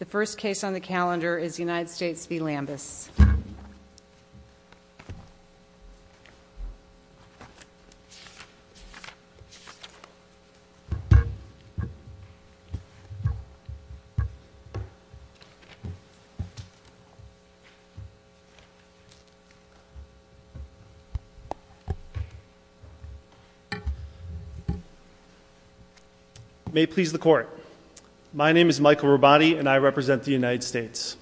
The first case on the calendar is United States v. Lambus. May it please the Court. My name is Michael Rabatti and I represent the United States.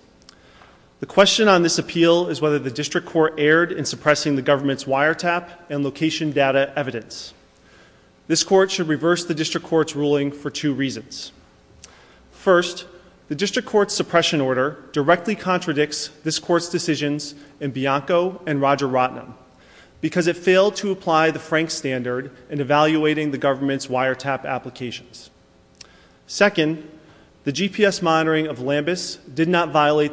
The question on this appeal is whether the District Court erred in suppressing the government's wiretap and location data evidence. This Court should reverse the District Court's ruling for two reasons. First, the District Court's suppression order directly contradicts this Court's decisions in Bianco and Roger Rottnum because it failed to apply the Frank Standard in evaluating the government's wiretap applications. Second, the GPS monitoring of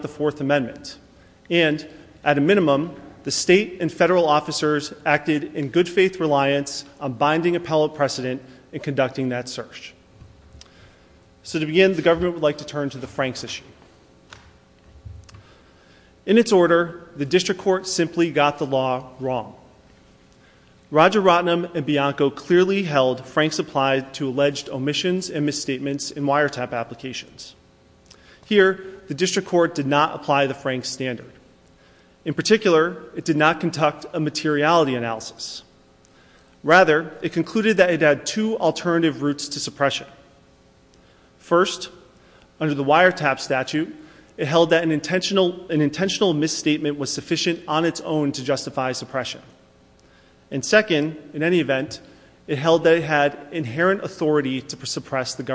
Fourth Amendment. And, at a minimum, the state and federal officers acted in good faith reliance on binding appellate precedent in conducting that search. So to begin, the government would like to turn to the Franks issue. In its order, the District Court simply got the law wrong. Roger Rottnum and Bianco clearly held Franks applied to alleged omissions and misstatements in wiretap applications. Here, the District Court did not apply the Franks Standard. In particular, it did not conduct a materiality analysis. Rather, it concluded that it had two alternative routes to suppression. First, under the wiretap statute, it held that an intentional misstatement was sufficient on its own to justify suppression. And second, in any event, it held that it had inherent authority to suppress the wiretap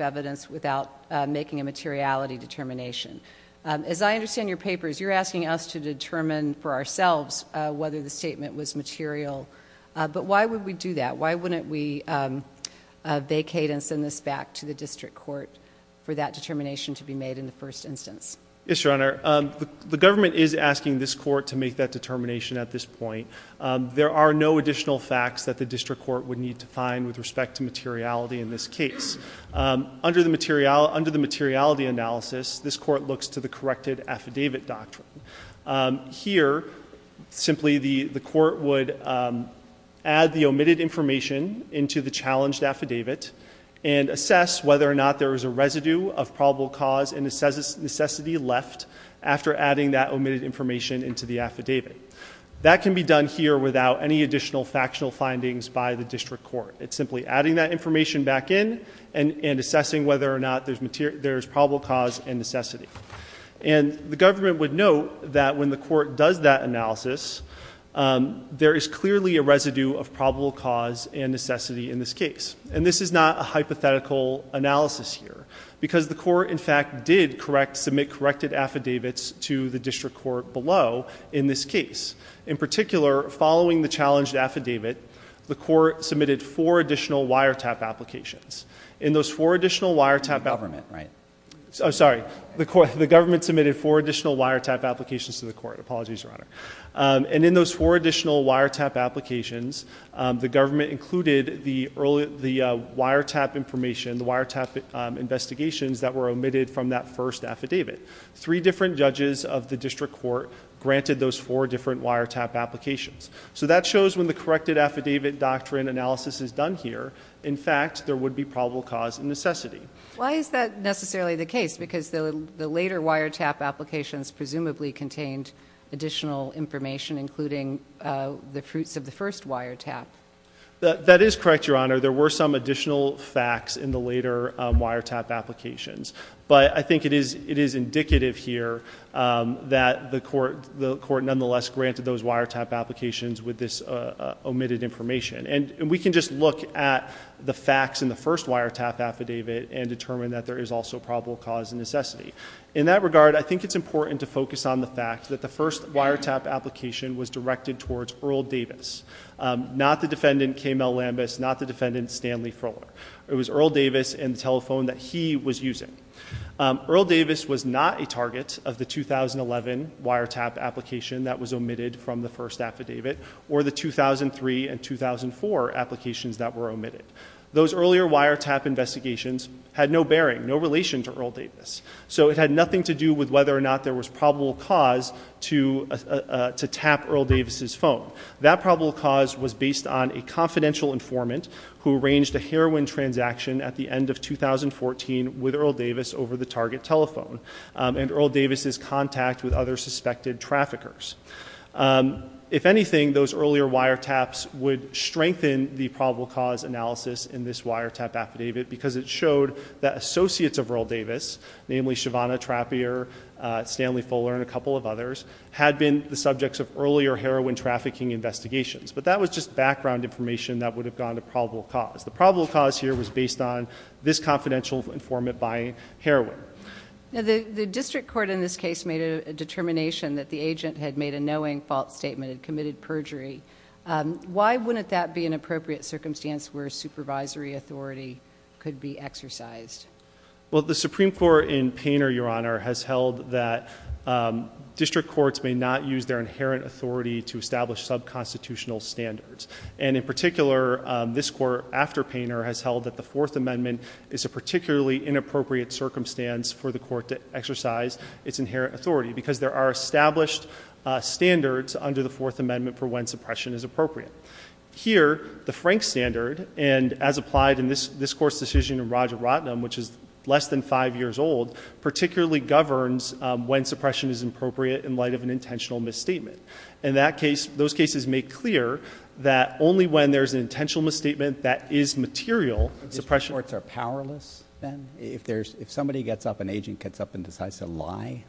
evidence without making a materiality determination. As I understand your papers, you're asking us to determine for ourselves whether the statement was material. But why would we do that? Why wouldn't we vacate and send this back to the District Court for that determination to be made in the first instance? Yes, Your Honor. The government is asking this court to make that determination at this point. There are no additional facts that the District Court would need to find with respect to materiality in this case. Under the materiality analysis, this court looks to the corrected affidavit doctrine. Here, simply the court would add the omitted information into the challenged after adding that omitted information into the affidavit. That can be done here without any additional factional findings by the District Court. It's simply adding that information back in and assessing whether or not there's probable cause and necessity. And the government would note that when the court does that analysis, there is clearly a residue of probable cause and necessity in this case. And this is not a hypothetical analysis here. Because the court, in fact, did submit corrected affidavits to the District Court below in this case. In particular, following the challenged affidavit, the court submitted four additional wiretap applications. In those four additional wiretap applications, the government included the wiretap information, the wiretap investigations that were omitted from that first affidavit. Three different judges of the District Court granted those four different wiretap applications. So that shows when the corrected affidavit doctrine analysis is done here, in fact, there would be probable cause and necessity. Why is that necessarily the case? Because the later wiretap applications presumably contained additional information, including the fruits of the first wiretap. That is correct, Your Honor. There were some additional facts in the later wiretap applications. But I think it is indicative here that the court nonetheless granted those wiretap applications with this omitted information. And we can just look at the facts in the first wiretap affidavit and determine that there is also probable cause and necessity. In that regard, I think it's important to focus on the fact that the first wiretap application was directed towards Earl Davis, not the defendant K. Mel Lambus, not the defendant Stanley Froehler. It was Earl Davis and the telephone that he was using. Earl Davis was not a target of the 2011 wiretap application that was omitted from the first affidavit or the 2003 and 2004 applications that were omitted. Those earlier wiretap investigations had no bearing, no relation to Earl Davis. So it had nothing to do with whether or not there was probable cause to tap Earl Davis's phone. That probable cause was based on a confidential informant who arranged a heroin transaction at the end of 2014 with Earl Davis over the target telephone and Earl Davis's contact with other suspected traffickers. If anything, those earlier wiretaps would strengthen the probable cause analysis in this wiretap affidavit because it showed that associates of Earl Davis, namely Shavonna Trappier, Stanley Froehler, and a couple of others, had been the subjects of earlier heroin trafficking investigations. But that was just background information that would have gone to probable cause. The probable cause here was based on this confidential informant buying heroin. The district court in this case made a determination that the agent had made a knowing fault statement and committed perjury. Why wouldn't that be an authority that could be exercised? Well, the Supreme Court in Painter, Your Honor, has held that district courts may not use their inherent authority to establish sub-constitutional standards. And in particular, this court after Painter has held that the Fourth Amendment is a particularly inappropriate circumstance for the court to exercise its inherent authority because there are established standards under the Fourth Amendment for when suppression is appropriate. Here, the Frank standard, and as applied in this court's decision in Raja Ratnam, which is less than five years old, particularly governs when suppression is appropriate in light of an intentional misstatement. In that case, those cases make clear that only when there's an intentional misstatement that is material, suppression- District courts are powerless then? If somebody gets up, an agent gets up and decides to lie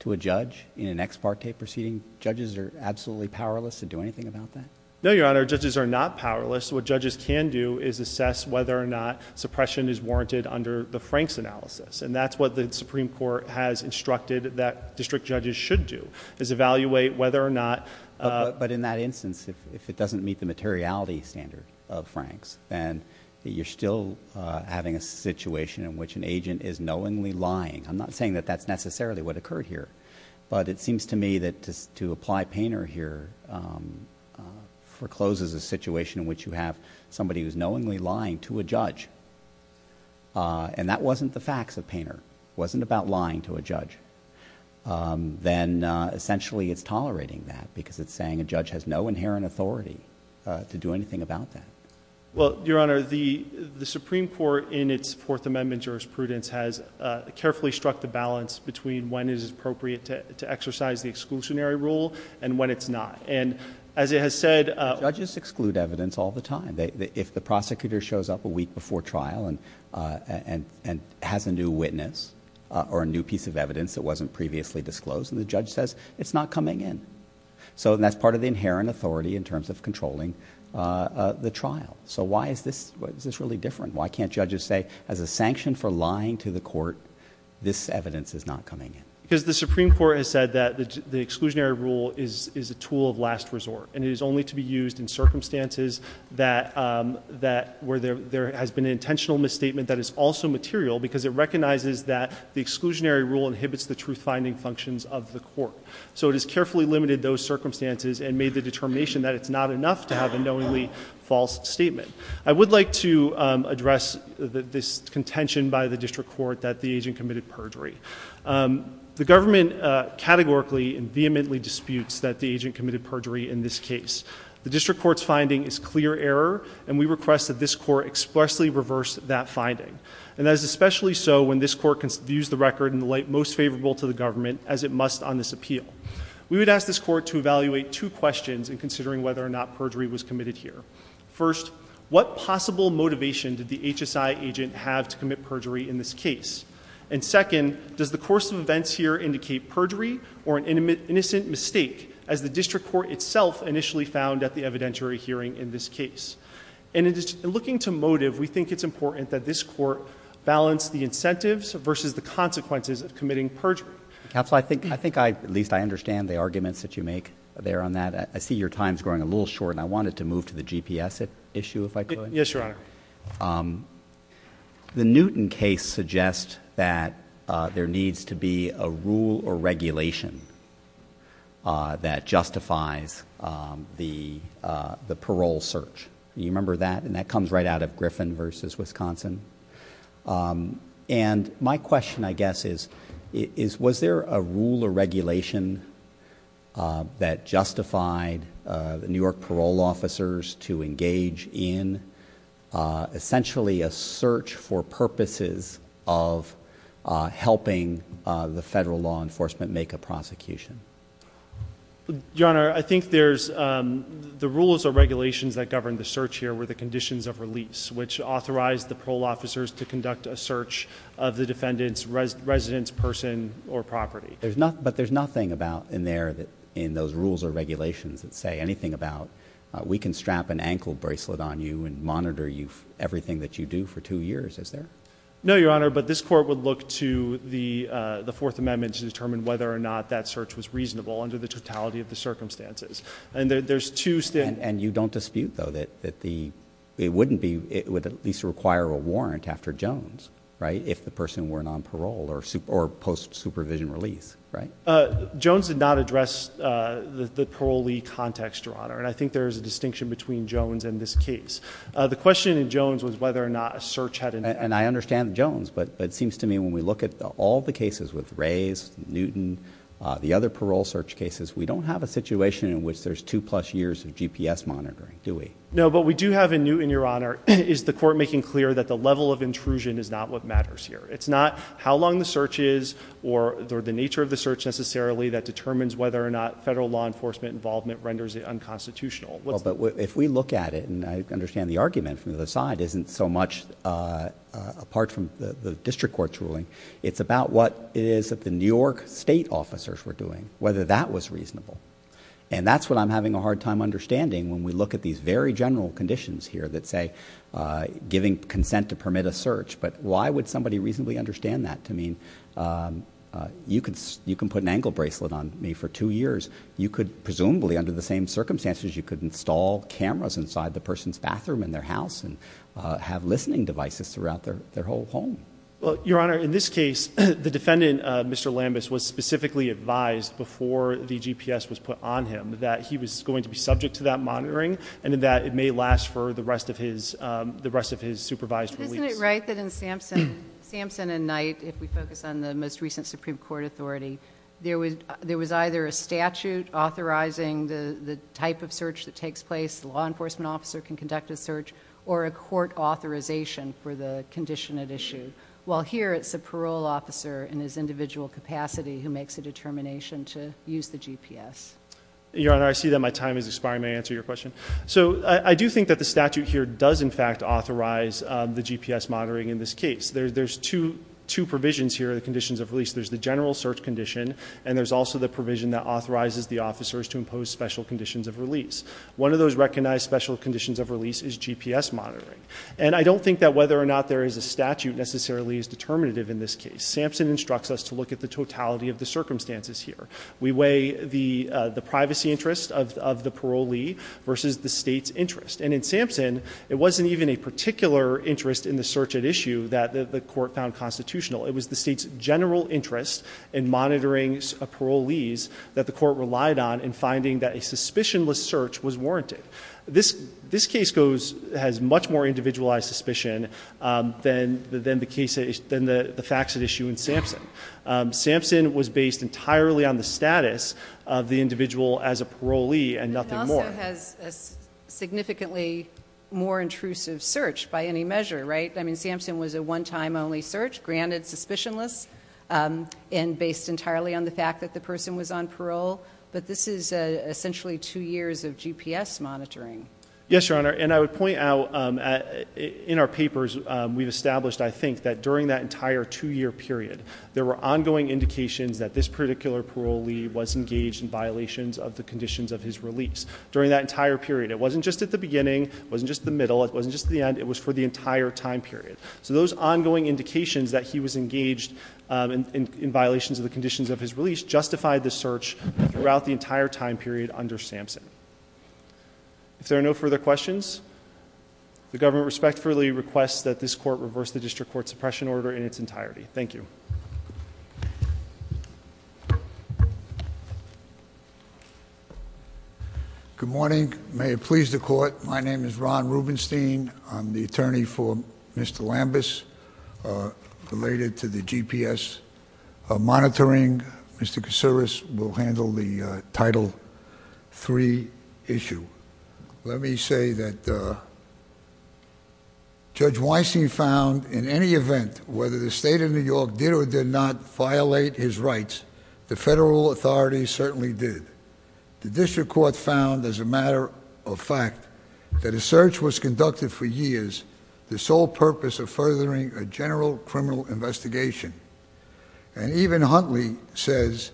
to a judge in an ex parte proceeding, judges are absolutely powerless to do anything about that? No, Your Honor. Judges are not powerless. What judges can do is assess whether or not suppression is warranted under the Frank's analysis. And that's what the Supreme Court has instructed that district judges should do, is evaluate whether or not- But in that instance, if it doesn't meet the materiality standard of Frank's, then you're still having a situation in which an agent is knowingly lying. I'm not saying that that's foreclosed as a situation in which you have somebody who's knowingly lying to a judge. And that wasn't the facts of Painter. It wasn't about lying to a judge. Then, essentially, it's tolerating that because it's saying a judge has no inherent authority to do anything about that. Well, Your Honor, the Supreme Court, in its Fourth Amendment jurisprudence, has carefully struck the balance between when it is appropriate to exercise the exclusionary rule and when it's not. And as it has said- Judges exclude evidence all the time. If the prosecutor shows up a week before trial and has a new witness or a new piece of evidence that wasn't previously disclosed, the judge says it's not coming in. So that's part of the inherent authority in terms of controlling the trial. So why is this really different? Why can't judges say, as a sanction for lying to the court, this evidence is not coming in? Because the Supreme Court has said that the exclusionary rule is a tool of last resort, and it is only to be used in circumstances where there has been an intentional misstatement that is also material because it recognizes that the exclusionary rule inhibits the truth-finding functions of the court. So it has carefully limited those circumstances and made the determination that it's not enough to have a knowingly false statement. I would like to address this contention by the district court that the agent committed perjury. The government categorically and vehemently disputes that the agent committed perjury in this case. The district court's finding is clear error, and we request that this court expressly reverse that finding. And that is especially so when this court views the record in the light most favorable to the government as it must on this appeal. We would ask this court to evaluate two questions in considering whether or not perjury was committed here. First, what possible motivation did the HSI agent have to commit perjury in this case? And second, does the course of events here indicate perjury or an innocent mistake, as the district court itself initially found at the evidentiary hearing in this case? And looking to motive, we think it's important that this court balance the incentives versus the consequences of committing perjury. Counsel, I think at least I understand the arguments that you make there on that. I see your time's growing a little short, and I wanted to move to the GPS issue, if I could. Yes, Your Honor. The Newton case suggests that there needs to be a rule or regulation that justifies the parole search. You remember that? And that comes right out of Griffin versus Wisconsin. And my question, I guess, is was there a rule or regulation that justified the New York parole officers to engage in essentially a search for purposes of helping the federal law enforcement make a prosecution? Your Honor, I think there's the rules or regulations that govern the search here were the conditions of release, which authorized the parole officers to conduct a search of the defendant's residence, person, or property. But there's nothing in those rules or regulations that say anything about we can strap an ankle bracelet on you and monitor everything that you do for two years, is there? No, Your Honor, but this court would look to the Fourth Amendment to determine whether or not that search was reasonable under the totality of the... it wouldn't be... it would at least require a warrant after Jones, right, if the person weren't on parole or post-supervision release, right? Jones did not address the parolee context, Your Honor, and I think there's a distinction between Jones and this case. The question in Jones was whether or not a search had... And I understand Jones, but it seems to me when we look at all the cases with Rays, Newton, the other parole search cases, we don't have a situation in which there's two plus years of GPS monitoring, do we? No, but we do have in Newton, Your Honor, is the court making clear that the level of intrusion is not what matters here. It's not how long the search is or the nature of the search necessarily that determines whether or not federal law enforcement involvement renders it unconstitutional. But if we look at it, and I understand the argument from the other side isn't so much apart from the district court's ruling, it's about what it is that the New York state officers were doing, whether that was reasonable. And that's what I'm having a hard time understanding when we look at these very general conditions here that say giving consent to permit a search. But why would somebody reasonably understand that to mean you can put an ankle bracelet on me for two years. You could presumably, under the same circumstances, you could install cameras inside the person's bathroom in their house and have listening devices throughout their whole home. Well, Your Honor, in this case, the defendant, Mr. Lambus, was specifically advised before the GPS was put on him that he was going to be subject to that monitoring and that it may last for the rest of his supervised release. Isn't it right that in Sampson and Knight, if we focus on the most recent Supreme Court authority, there was either a statute authorizing the type of search that takes place, the law enforcement officer can conduct a search, or a court authorization for the condition at issue. While here it's a parole officer in his individual capacity who makes a determination to use the GPS. Your Honor, I see that my time is expiring. May I answer your question? So I do think that the statute here does, in fact, authorize the GPS monitoring in this case. There's two provisions here, the conditions of release. There's the general search condition, and there's also the provision that authorizes the officers to impose special conditions of release. One of those recognized special conditions of release is GPS monitoring. And I don't think that whether or not there is a statute necessarily is determinative in this case. Sampson instructs us to look at the totality of the circumstances here. We weigh the privacy interest of the parolee versus the state's interest. And in Sampson, it wasn't even a particular interest in the search at issue that the court found constitutional. It was the state's general interest in monitoring parolees that the court relied on in finding that a suspicionless search was warranted. This case has much more individualized suspicion than the facts at issue in Sampson. Sampson was based entirely on the status of the individual as a parolee and nothing more. It also has a significantly more intrusive search by any measure, right? I mean, Sampson was a one-time only search, granted suspicionless, and based entirely on the fact that the person was on parole. But this is essentially two years of GPS monitoring. Yes, Your Honor. And I would point out in our papers, we've established, I think, that during that entire two-year period, there were ongoing indications that this particular parolee was engaged in violations of the conditions of his release during that entire period. It wasn't just at the beginning. It wasn't just the middle. It wasn't just the end. It was for the entire time period. So those ongoing indications that he was engaged in violations of the conditions of his release justified the search throughout the entire time period under Sampson. If there are no further questions, the government respectfully requests that this court reverse the district court suppression order in its entirety. Thank you. Good morning. May it please the court, my name is Ron Rubenstein. I'm the attorney for Mr. Lambus related to the GPS monitoring. Mr. Kaciris will handle the Title III issue. Let me say that Judge Weissing found in any event whether the state of New York did or did not violate his rights, the federal authorities certainly did. The district court found as a matter of fact that a search was conducted for years, the sole purpose of furthering a general criminal investigation. And even Huntley says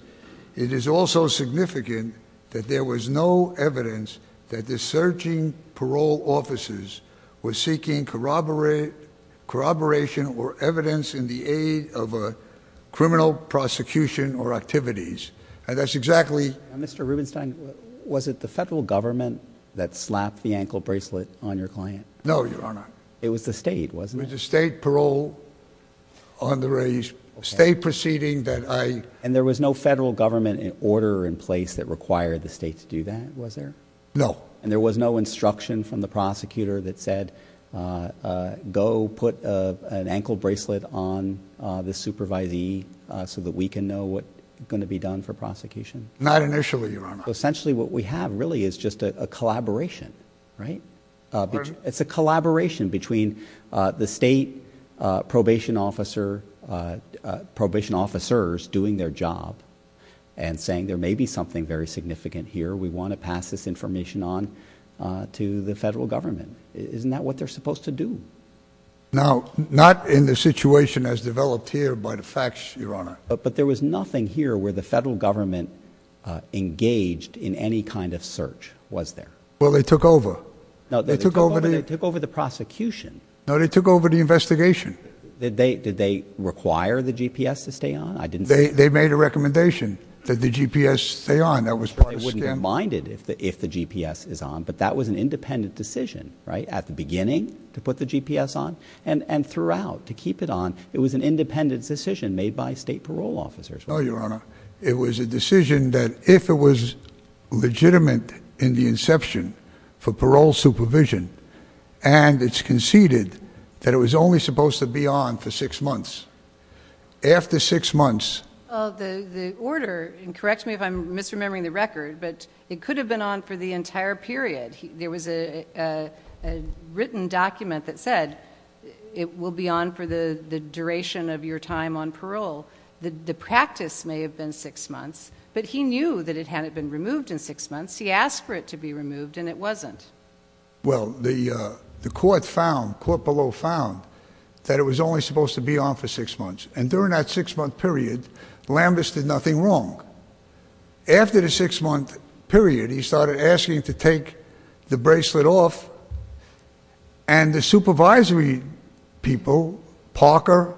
it is also significant that there was no evidence that the searching parole officers were seeking corroboration or evidence in the aid of a criminal prosecution or activities. And that's exactly... Mr. Rubenstein, was it the federal government that slapped the ankle bracelet on your client? No, Your Honor. It was the state, wasn't it? It was the state parole on the raise. State proceeding that I... And there was no federal government order in place that required the state to do that, was there? No. And there was no instruction from the prosecutor that said, go put an ankle bracelet on the supervisee so that we can know what's going to be done for prosecution? Not initially, Your Honor. Essentially what we have really is just a collaboration, right? It's a collaboration between the state probation officer, probation officers doing their job and saying there may be something very significant here. We want to pass this information on to the federal government. Isn't that what they're supposed to do? Now, not in the situation as developed here by the facts, Your Honor. But there was nothing here where the federal government engaged in any kind of search, was there? Well, they took over. No, they took over. They took over the prosecution. No, they took over the investigation. Did they require the GPS to stay on? I didn't... They made a recommendation that the GPS stay on. That was part of the scam. They wouldn't mind it if the GPS is on, but that was an independent decision, right? At the beginning to put the GPS on and throughout to keep it on. It was an independent decision made by state parole officers. No, Your Honor. It was a decision that if it was legitimate in the inception for parole supervision and it's conceded that it was only supposed to be on for six months. After six months... The order, and correct me if I'm misremembering the record, but it could have been on for the entire period. There was a written document that said it will be on for the duration of your time on parole. The practice may have been six months, but he knew that it hadn't been removed in six months. He asked for it to be removed and it wasn't. Well, the court found, court below found, that it was only supposed to be on for six months and during that six month period, Lambus did nothing wrong. After the six month period, he started asking to take the bracelet off and the supervisory people, Parker,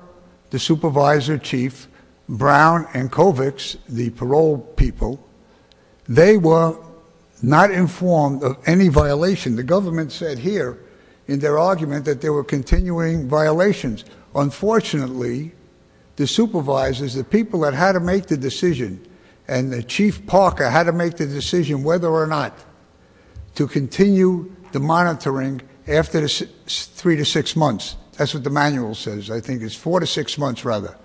the supervisor chief, Brown, and Kovics, the parole people, they were not informed of any violation. The government said here in their argument that there were continuing violations. Unfortunately, the supervisors, the people that had to make the decision and Chief Parker had to make the decision whether or not to continue the monitoring after the three to six months. That's what the manual says. I think it's four to six months rather.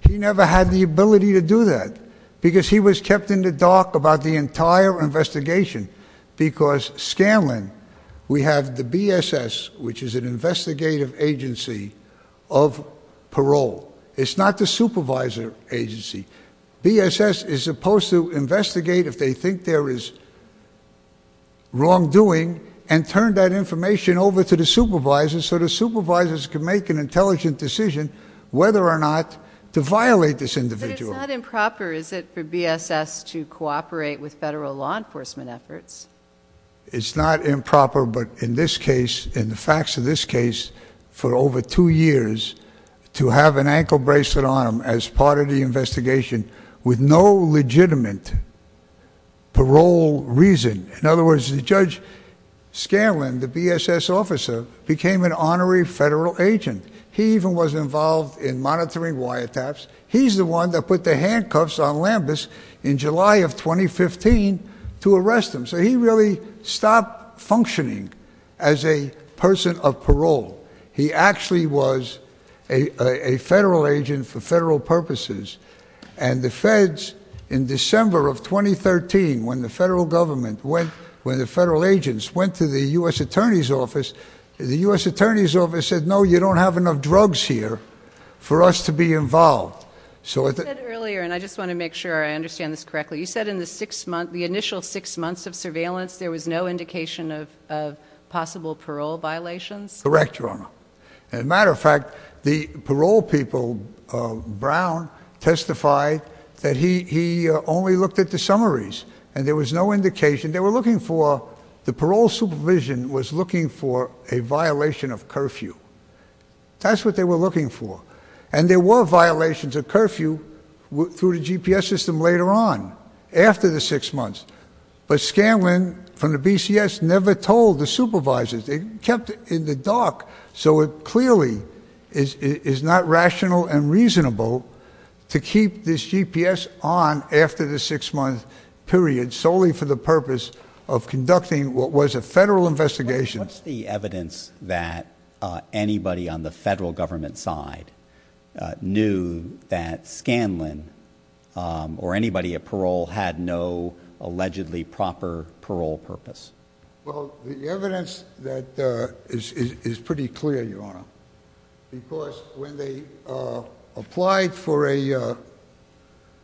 He never had the ability to do that because he was kept in the dark about the entire investigation because Scanlon, we have the BSS, which is an investigative agency of parole. It's not the supervisor agency. BSS is supposed to investigate if they think there is wrongdoing and turn that information over to the supervisors so the supervisors can make an intelligent decision whether or not to violate this individual. But it's not improper, is it, for BSS to cooperate with federal law enforcement efforts? It's not improper, but in this case, in the facts of this case, for over two years to have an ankle bracelet on him as part of the investigation with no legitimate parole reason. In other words, Judge Scanlon, the BSS officer, became an honorary federal agent. He even was involved in monitoring wiretaps. He's the one that put the handcuffs on Lambus in July of 2015 to arrest him. So he really stopped functioning as a person of parole. He actually was a federal agent for federal purposes. And the feds, in December of 2013, when the federal government went, when the federal agents went to the U.S. Attorney's Office, the U.S. Attorney's Office said, no, you don't have enough drugs here for us to be involved. You said earlier, and I just want to make sure I understand this correctly, you said in the six months, the initial six months of surveillance, there was no indication of possible parole violations? Correct, Your Honor. As a matter of fact, the parole people, Brown testified that he only looked at the summaries and there was no indication. They were looking for, the parole supervision was looking for a violation of curfew. That's what they were looking for. And there were violations of curfew through the GPS system later on, after the six months. But Scanlon from the BCS never told the supervisors. They kept it in the dark. So it clearly is not rational and reasonable to keep this GPS on after the six month period solely for the purpose of conducting what was a federal investigation. What's the had no allegedly proper parole purpose? Well, the evidence that is pretty clear, Your Honor, because when they applied for a,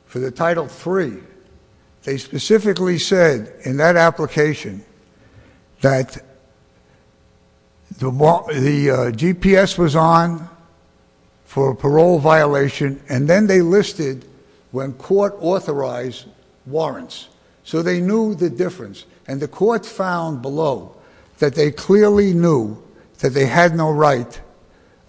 for the Title III, they specifically said in that application that the GPS was on for a parole violation. And then they listed when court authorized warrants. So they knew the difference. And the court found below that they clearly knew that they had no right,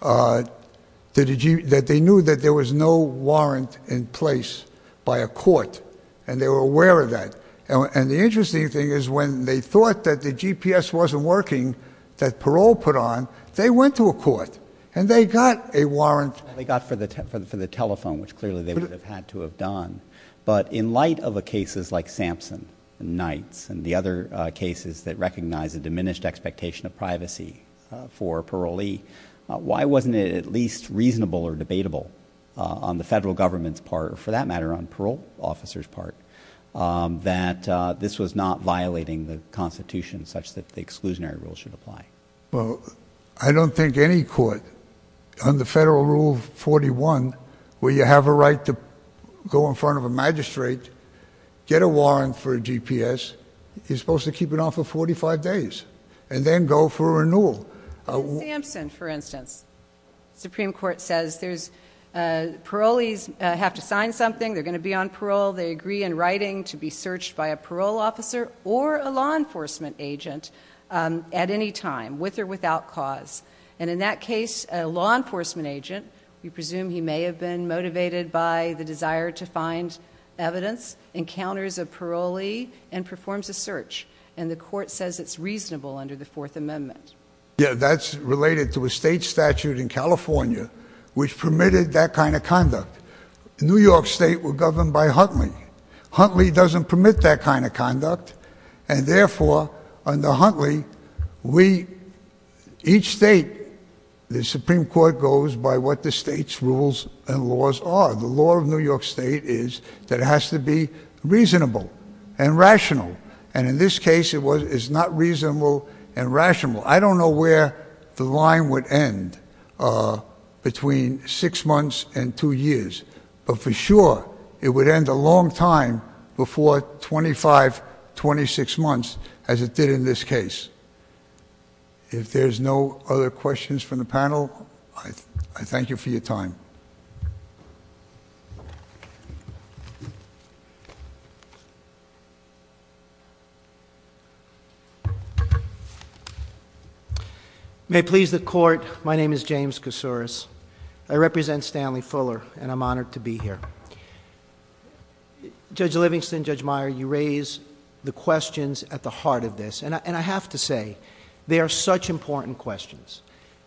that they knew that there was no warrant in place by a court. And they were aware of that. And the interesting thing is when they thought that the GPS wasn't working, that parole put on, they went to a court and they got a warrant. They got for the, for the telephone, which clearly they would have had to have done. But in light of a cases like Sampson, Knights, and the other cases that recognize a diminished expectation of privacy for parolee, why wasn't it at least reasonable or debatable on the federal government's part, or for that matter, on parole officers part, that this was not violating the constitution such that the exclusionary rules should apply? Well, I don't think any court under federal rule 41, where you have a right to go in front of a magistrate, get a warrant for a GPS, you're supposed to keep it on for 45 days and then go for a renewal. Sampson, for instance, Supreme Court says there's parolees have to sign something. They're going to be on parole. They agree in writing to be searched by a parole officer or a law enforcement agent at any time, with or without cause. And in that case, a law enforcement agent, we presume he may have been motivated by the desire to find evidence, encounters a parolee, and performs a search. And the court says it's reasonable under the Fourth Amendment. Yeah, that's related to a state statute in California, which permitted that kind of conduct. New York State were governed by Huntley. Huntley doesn't permit that kind of conduct. And therefore, under Huntley, we, each state, the Supreme Court goes by what the state's rules and laws are. The law of New York State is that it has to be reasonable and rational. And in this case, it was, it's not reasonable and rational. I don't know where the line would end between six months and two years, but for sure it would end a long time before 25, 26 months, as it did in this case. If there's no other questions from the panel, I thank you for your time. I represent Stanley Fuller, and I'm honored to be here. Judge Livingston, Judge Meyer, you raise the questions at the heart of this. And I have to say they are such important questions.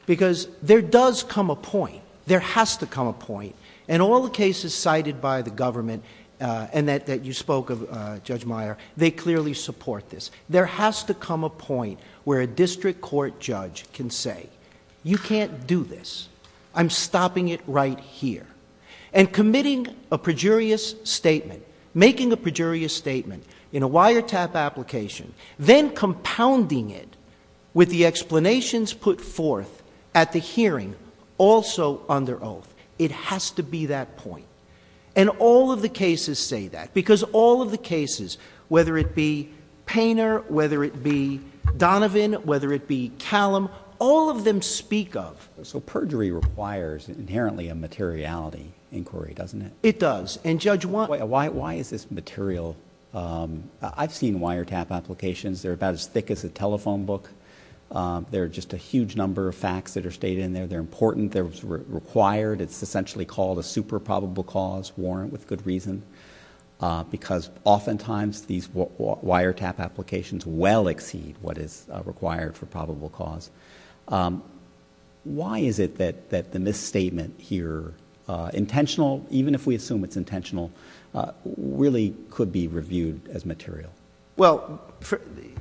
Because there does come a point, there has to come a point, in all the cases cited by the government, and that you spoke of, Judge Meyer, they clearly support this. There has to come a point where a district court judge can say, you can't do this. I'm stopping it right here. And committing a pejorious statement, making a pejorious statement in a wiretap application, then compounding it with the explanations put forth at the hearing, also under oath. It has to be that point. And all of the cases say that. Because all of the cases, whether it be Painter, whether it be Donovan, whether it be Callum, all of them speak of. So perjury requires inherently a materiality inquiry, doesn't it? It does. And Judge, why is this material? I've seen wiretap applications. They're about as thick as a telephone book. There are just a huge number of facts that are stated in there. They're important. They're required. It's essentially called a super probable cause warrant with good reason. Because oftentimes these wiretap applications well exceed what is required for probable cause. Why is it that the misstatement here, intentional, even if we assume it's intentional, really could be reviewed as material? Well,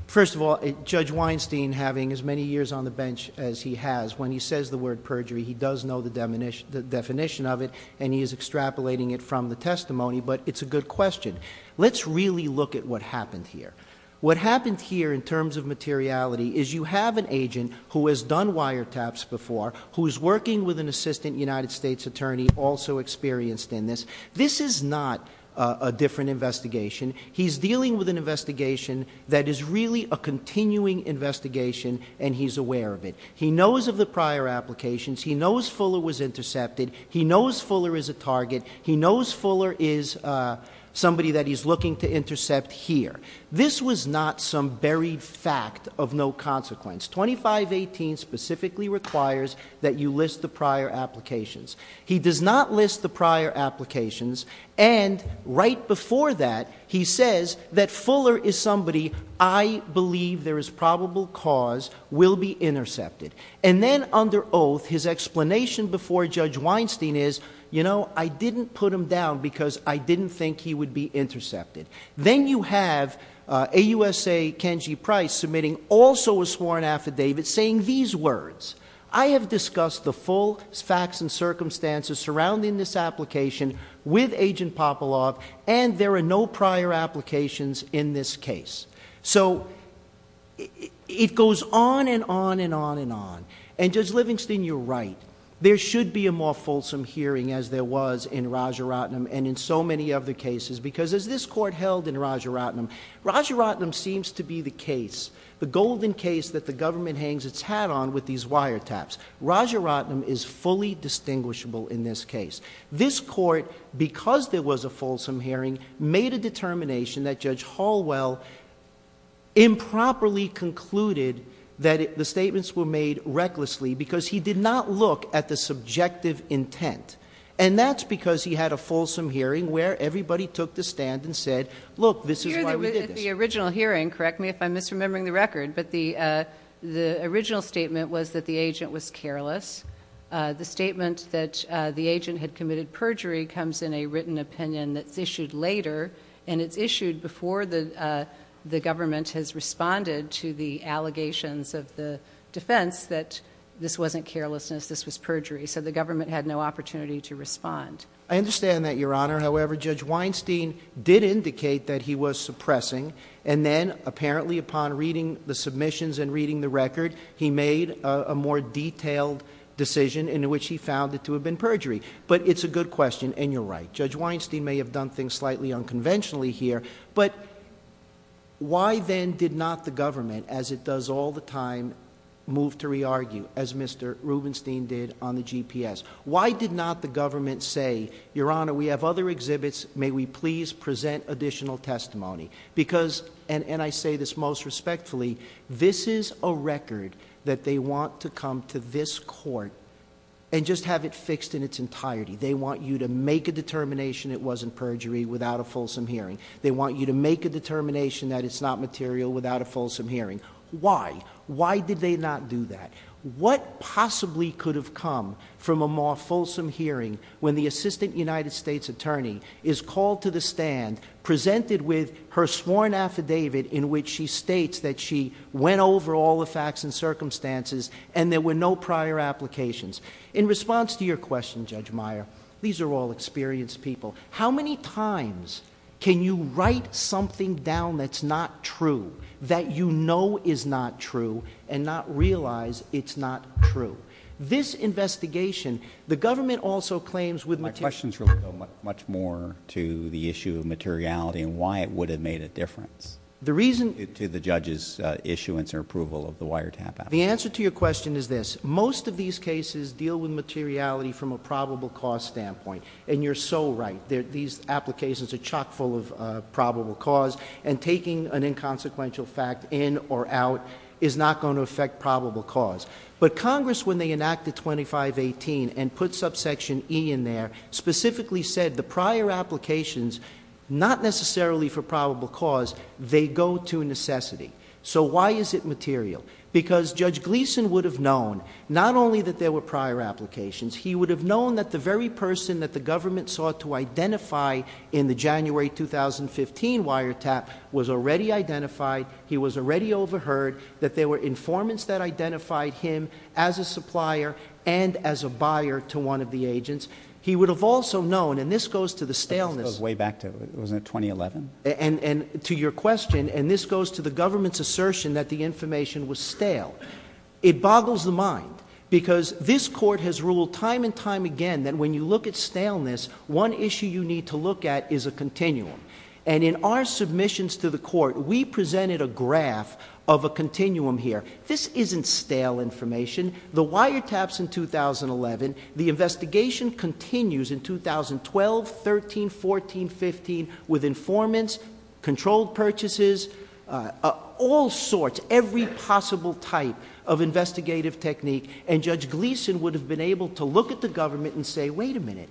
first of all, Judge Weinstein having as many years on the bench as he has, when he says the word perjury, he does know the definition of it and he is extrapolating it from the testimony. But it's a good question. Let's really look at what happened here. What happened here in terms of materiality is you have an agent who has done wiretaps before, who is working with an assistant United States attorney also experienced in this. This is not a different investigation. He's dealing with an investigation that is really a continuing investigation and he's aware of it. He knows of the prior applications. He knows Fuller was intercepted. He knows Fuller is a target. He knows Fuller is somebody that he's looking to intercept here. This was not some buried fact of no consequence. 2518 specifically requires that you list the prior applications. He does not list the prior applications. And right before that, he says that Fuller is somebody I believe there is probable cause will be intercepted. And then under oath, his explanation before Judge Weinstein is, you know, I didn't put him down because I didn't think he would be intercepted. Then you have a USA Kenji Price submitting also a sworn affidavit saying these words, I have discussed the full facts and circumstances surrounding this application with Agent Popalov and there are no prior applications in this case. So it goes on and on and on and on. And Judge Livingston, you're right. There should be a more fulsome hearing as there was in Raja Ratnam and in so many other cases, because as this court held in Raja Ratnam, Raja Ratnam seems to be the case, the golden case that the government hangs its hat on with these because there was a fulsome hearing made a determination that Judge Hallwell improperly concluded that the statements were made recklessly because he did not look at the subjective intent. And that's because he had a fulsome hearing where everybody took the stand and said, look, this is why we did the original hearing. Correct me if I'm misremembering the record. But the the original statement was that the agent was careless. The statement that the perjury comes in a written opinion that's issued later and it's issued before the government has responded to the allegations of the defense that this wasn't carelessness, this was perjury. So the government had no opportunity to respond. I understand that, Your Honor. However, Judge Weinstein did indicate that he was suppressing. And then apparently upon reading the submissions and reading the record, he made a more detailed decision in which he found it to have been perjury. But it's a good question. And you're right. Judge Weinstein may have done things slightly unconventionally here. But why then did not the government, as it does all the time, move to re-argue as Mr. Rubenstein did on the GPS? Why did not the government say, Your Honor, we have other exhibits. May we please present additional testimony? Because and I say this most respectfully, this is a record that they want to come to this court and just have it fixed in its entirety. They want you to make a determination it wasn't perjury without a fulsome hearing. They want you to make a determination that it's not material without a fulsome hearing. Why? Why did they not do that? What possibly could have come from a more fulsome hearing when the Assistant United States Attorney is called to the stand, presented with her sworn affidavit in which she states that she went over all the facts and circumstances and there were no applications? In response to your question, Judge Meyer, these are all experienced people. How many times can you write something down that's not true, that you know is not true, and not realize it's not true? This investigation, the government also claims with material... My question is related much more to the issue of materiality and why it would have made a difference to the judge's issuance or approval of the wiretap application. The answer to your question is this. Most of these cases deal with materiality from a probable cause standpoint, and you're so right. These applications are chock full of probable cause, and taking an inconsequential fact in or out is not going to affect probable cause. But Congress, when they enacted 2518 and put subsection E in there, specifically said the prior applications, not necessarily for probable cause, they go to necessity. So why is it material? Because Judge Gleeson would have known not only that there were prior applications, he would have known that the very person that the government sought to identify in the January 2015 wiretap was already identified, he was already overheard, that there were informants that identified him as a supplier and as a buyer to one of the agents. He would have also known, and this goes to the staleness— This goes way back to, wasn't it 2011? And to your question, and this goes to the government's assertion that the information was stale. It boggles the mind because this Court has ruled time and time again that when you look at staleness, one issue you need to look at is a continuum. And in our submissions to the Court, we presented a graph of a continuum here. This isn't stale information. The wiretaps in 2011, the investigation continues in 2012, 13, 14, 15 with informants, controlled purchases, all sorts, every possible type of investigative technique, and Judge Gleeson would have been able to look at the government and say, wait a minute,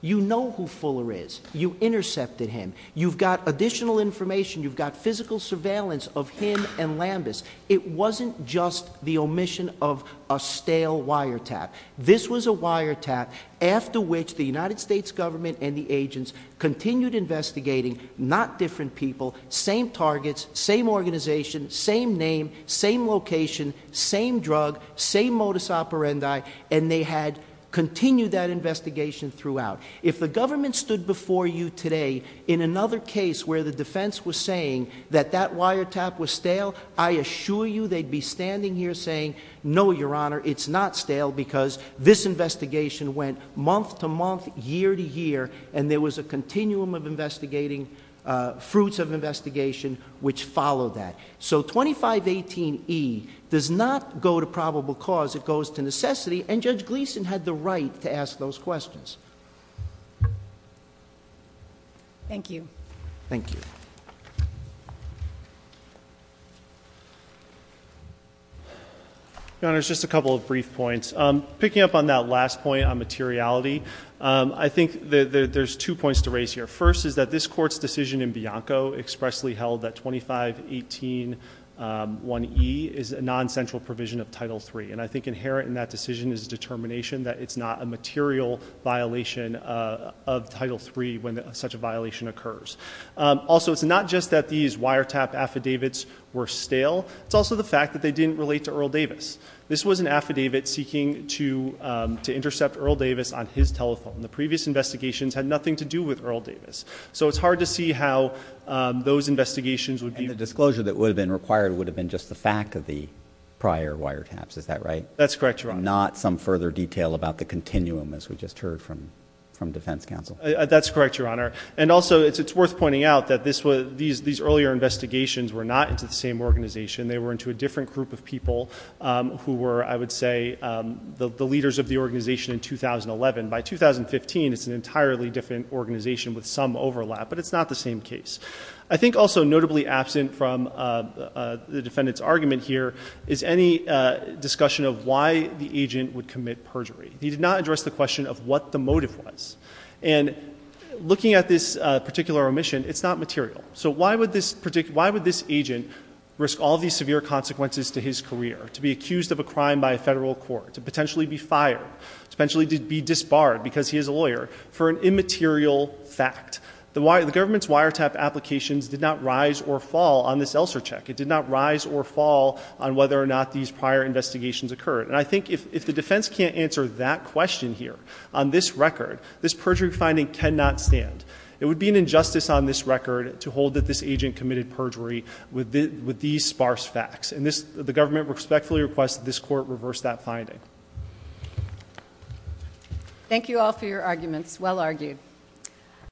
you know who Fuller is. You intercepted him. You've got additional information. You've got physical surveillance of him and Lambus. It wasn't just the omission of a stale wiretap. This was a wiretap after which the United States government and the agents continued investigating not different people, same targets, same organization, same name, same location, same drug, same modus operandi, and they had continued that investigation throughout. If the government stood before you today in another case where the defense was saying that that wiretap was stale, I assure you they'd be standing here saying, no, Your Honor, it's not stale because this investigation went month to month, year to year, and there was a continuum of investigating, fruits of investigation which followed that. So 2518E does not go to probable cause. It goes to necessity, and Judge Gleeson had the right to ask those questions. Thank you. Thank you. Your Honor, just a couple of brief points. Picking up on that last point on materiality, I think there's two points to raise here. First is that this court's decision in Bianco expressly held that 2518E is a non-central provision of Title III, and I think inherent in that decision is a determination that it's not a material violation of Title III when such a violation occurs. Also, it's not just that these wiretap affidavits were stale, it's also the fact that they didn't relate to Earl Davis. This was an affidavit seeking to intercept Earl Davis on his telephone. The previous investigations had nothing to do with Earl Davis, so it's hard to see how those investigations would be... And the disclosure that would have been required would have been just the fact of the prior wiretaps, is that right? That's correct, Your Honor. Not some further detail about the continuum, as we just heard from defense counsel. That's correct, Your Honor. And also, it's worth pointing out that these earlier investigations were not into the same organization. They were into a different group of people who were, I would say, the leaders of the organization in 2011. By 2015, it's an entirely different organization with some overlap, but it's not the same case. I think also notably absent from the defendant's argument here is any discussion of why the agent would commit perjury. He did not address the question of what the motive was. And looking at this particular omission, it's not material. So why would this agent risk all these severe consequences to his career, to be accused of a crime by a federal court, to potentially be fired, to potentially be disbarred because he is a lawyer, for an immaterial fact? The government's wiretap applications did not fall on this ELSER check. It did not rise or fall on whether or not these prior investigations occurred. And I think if the defense can't answer that question here on this record, this perjury finding cannot stand. It would be an injustice on this record to hold that this agent committed perjury with these sparse facts. And the government respectfully requests that this court reverse that finding. Thank you all for your arguments. Well argued.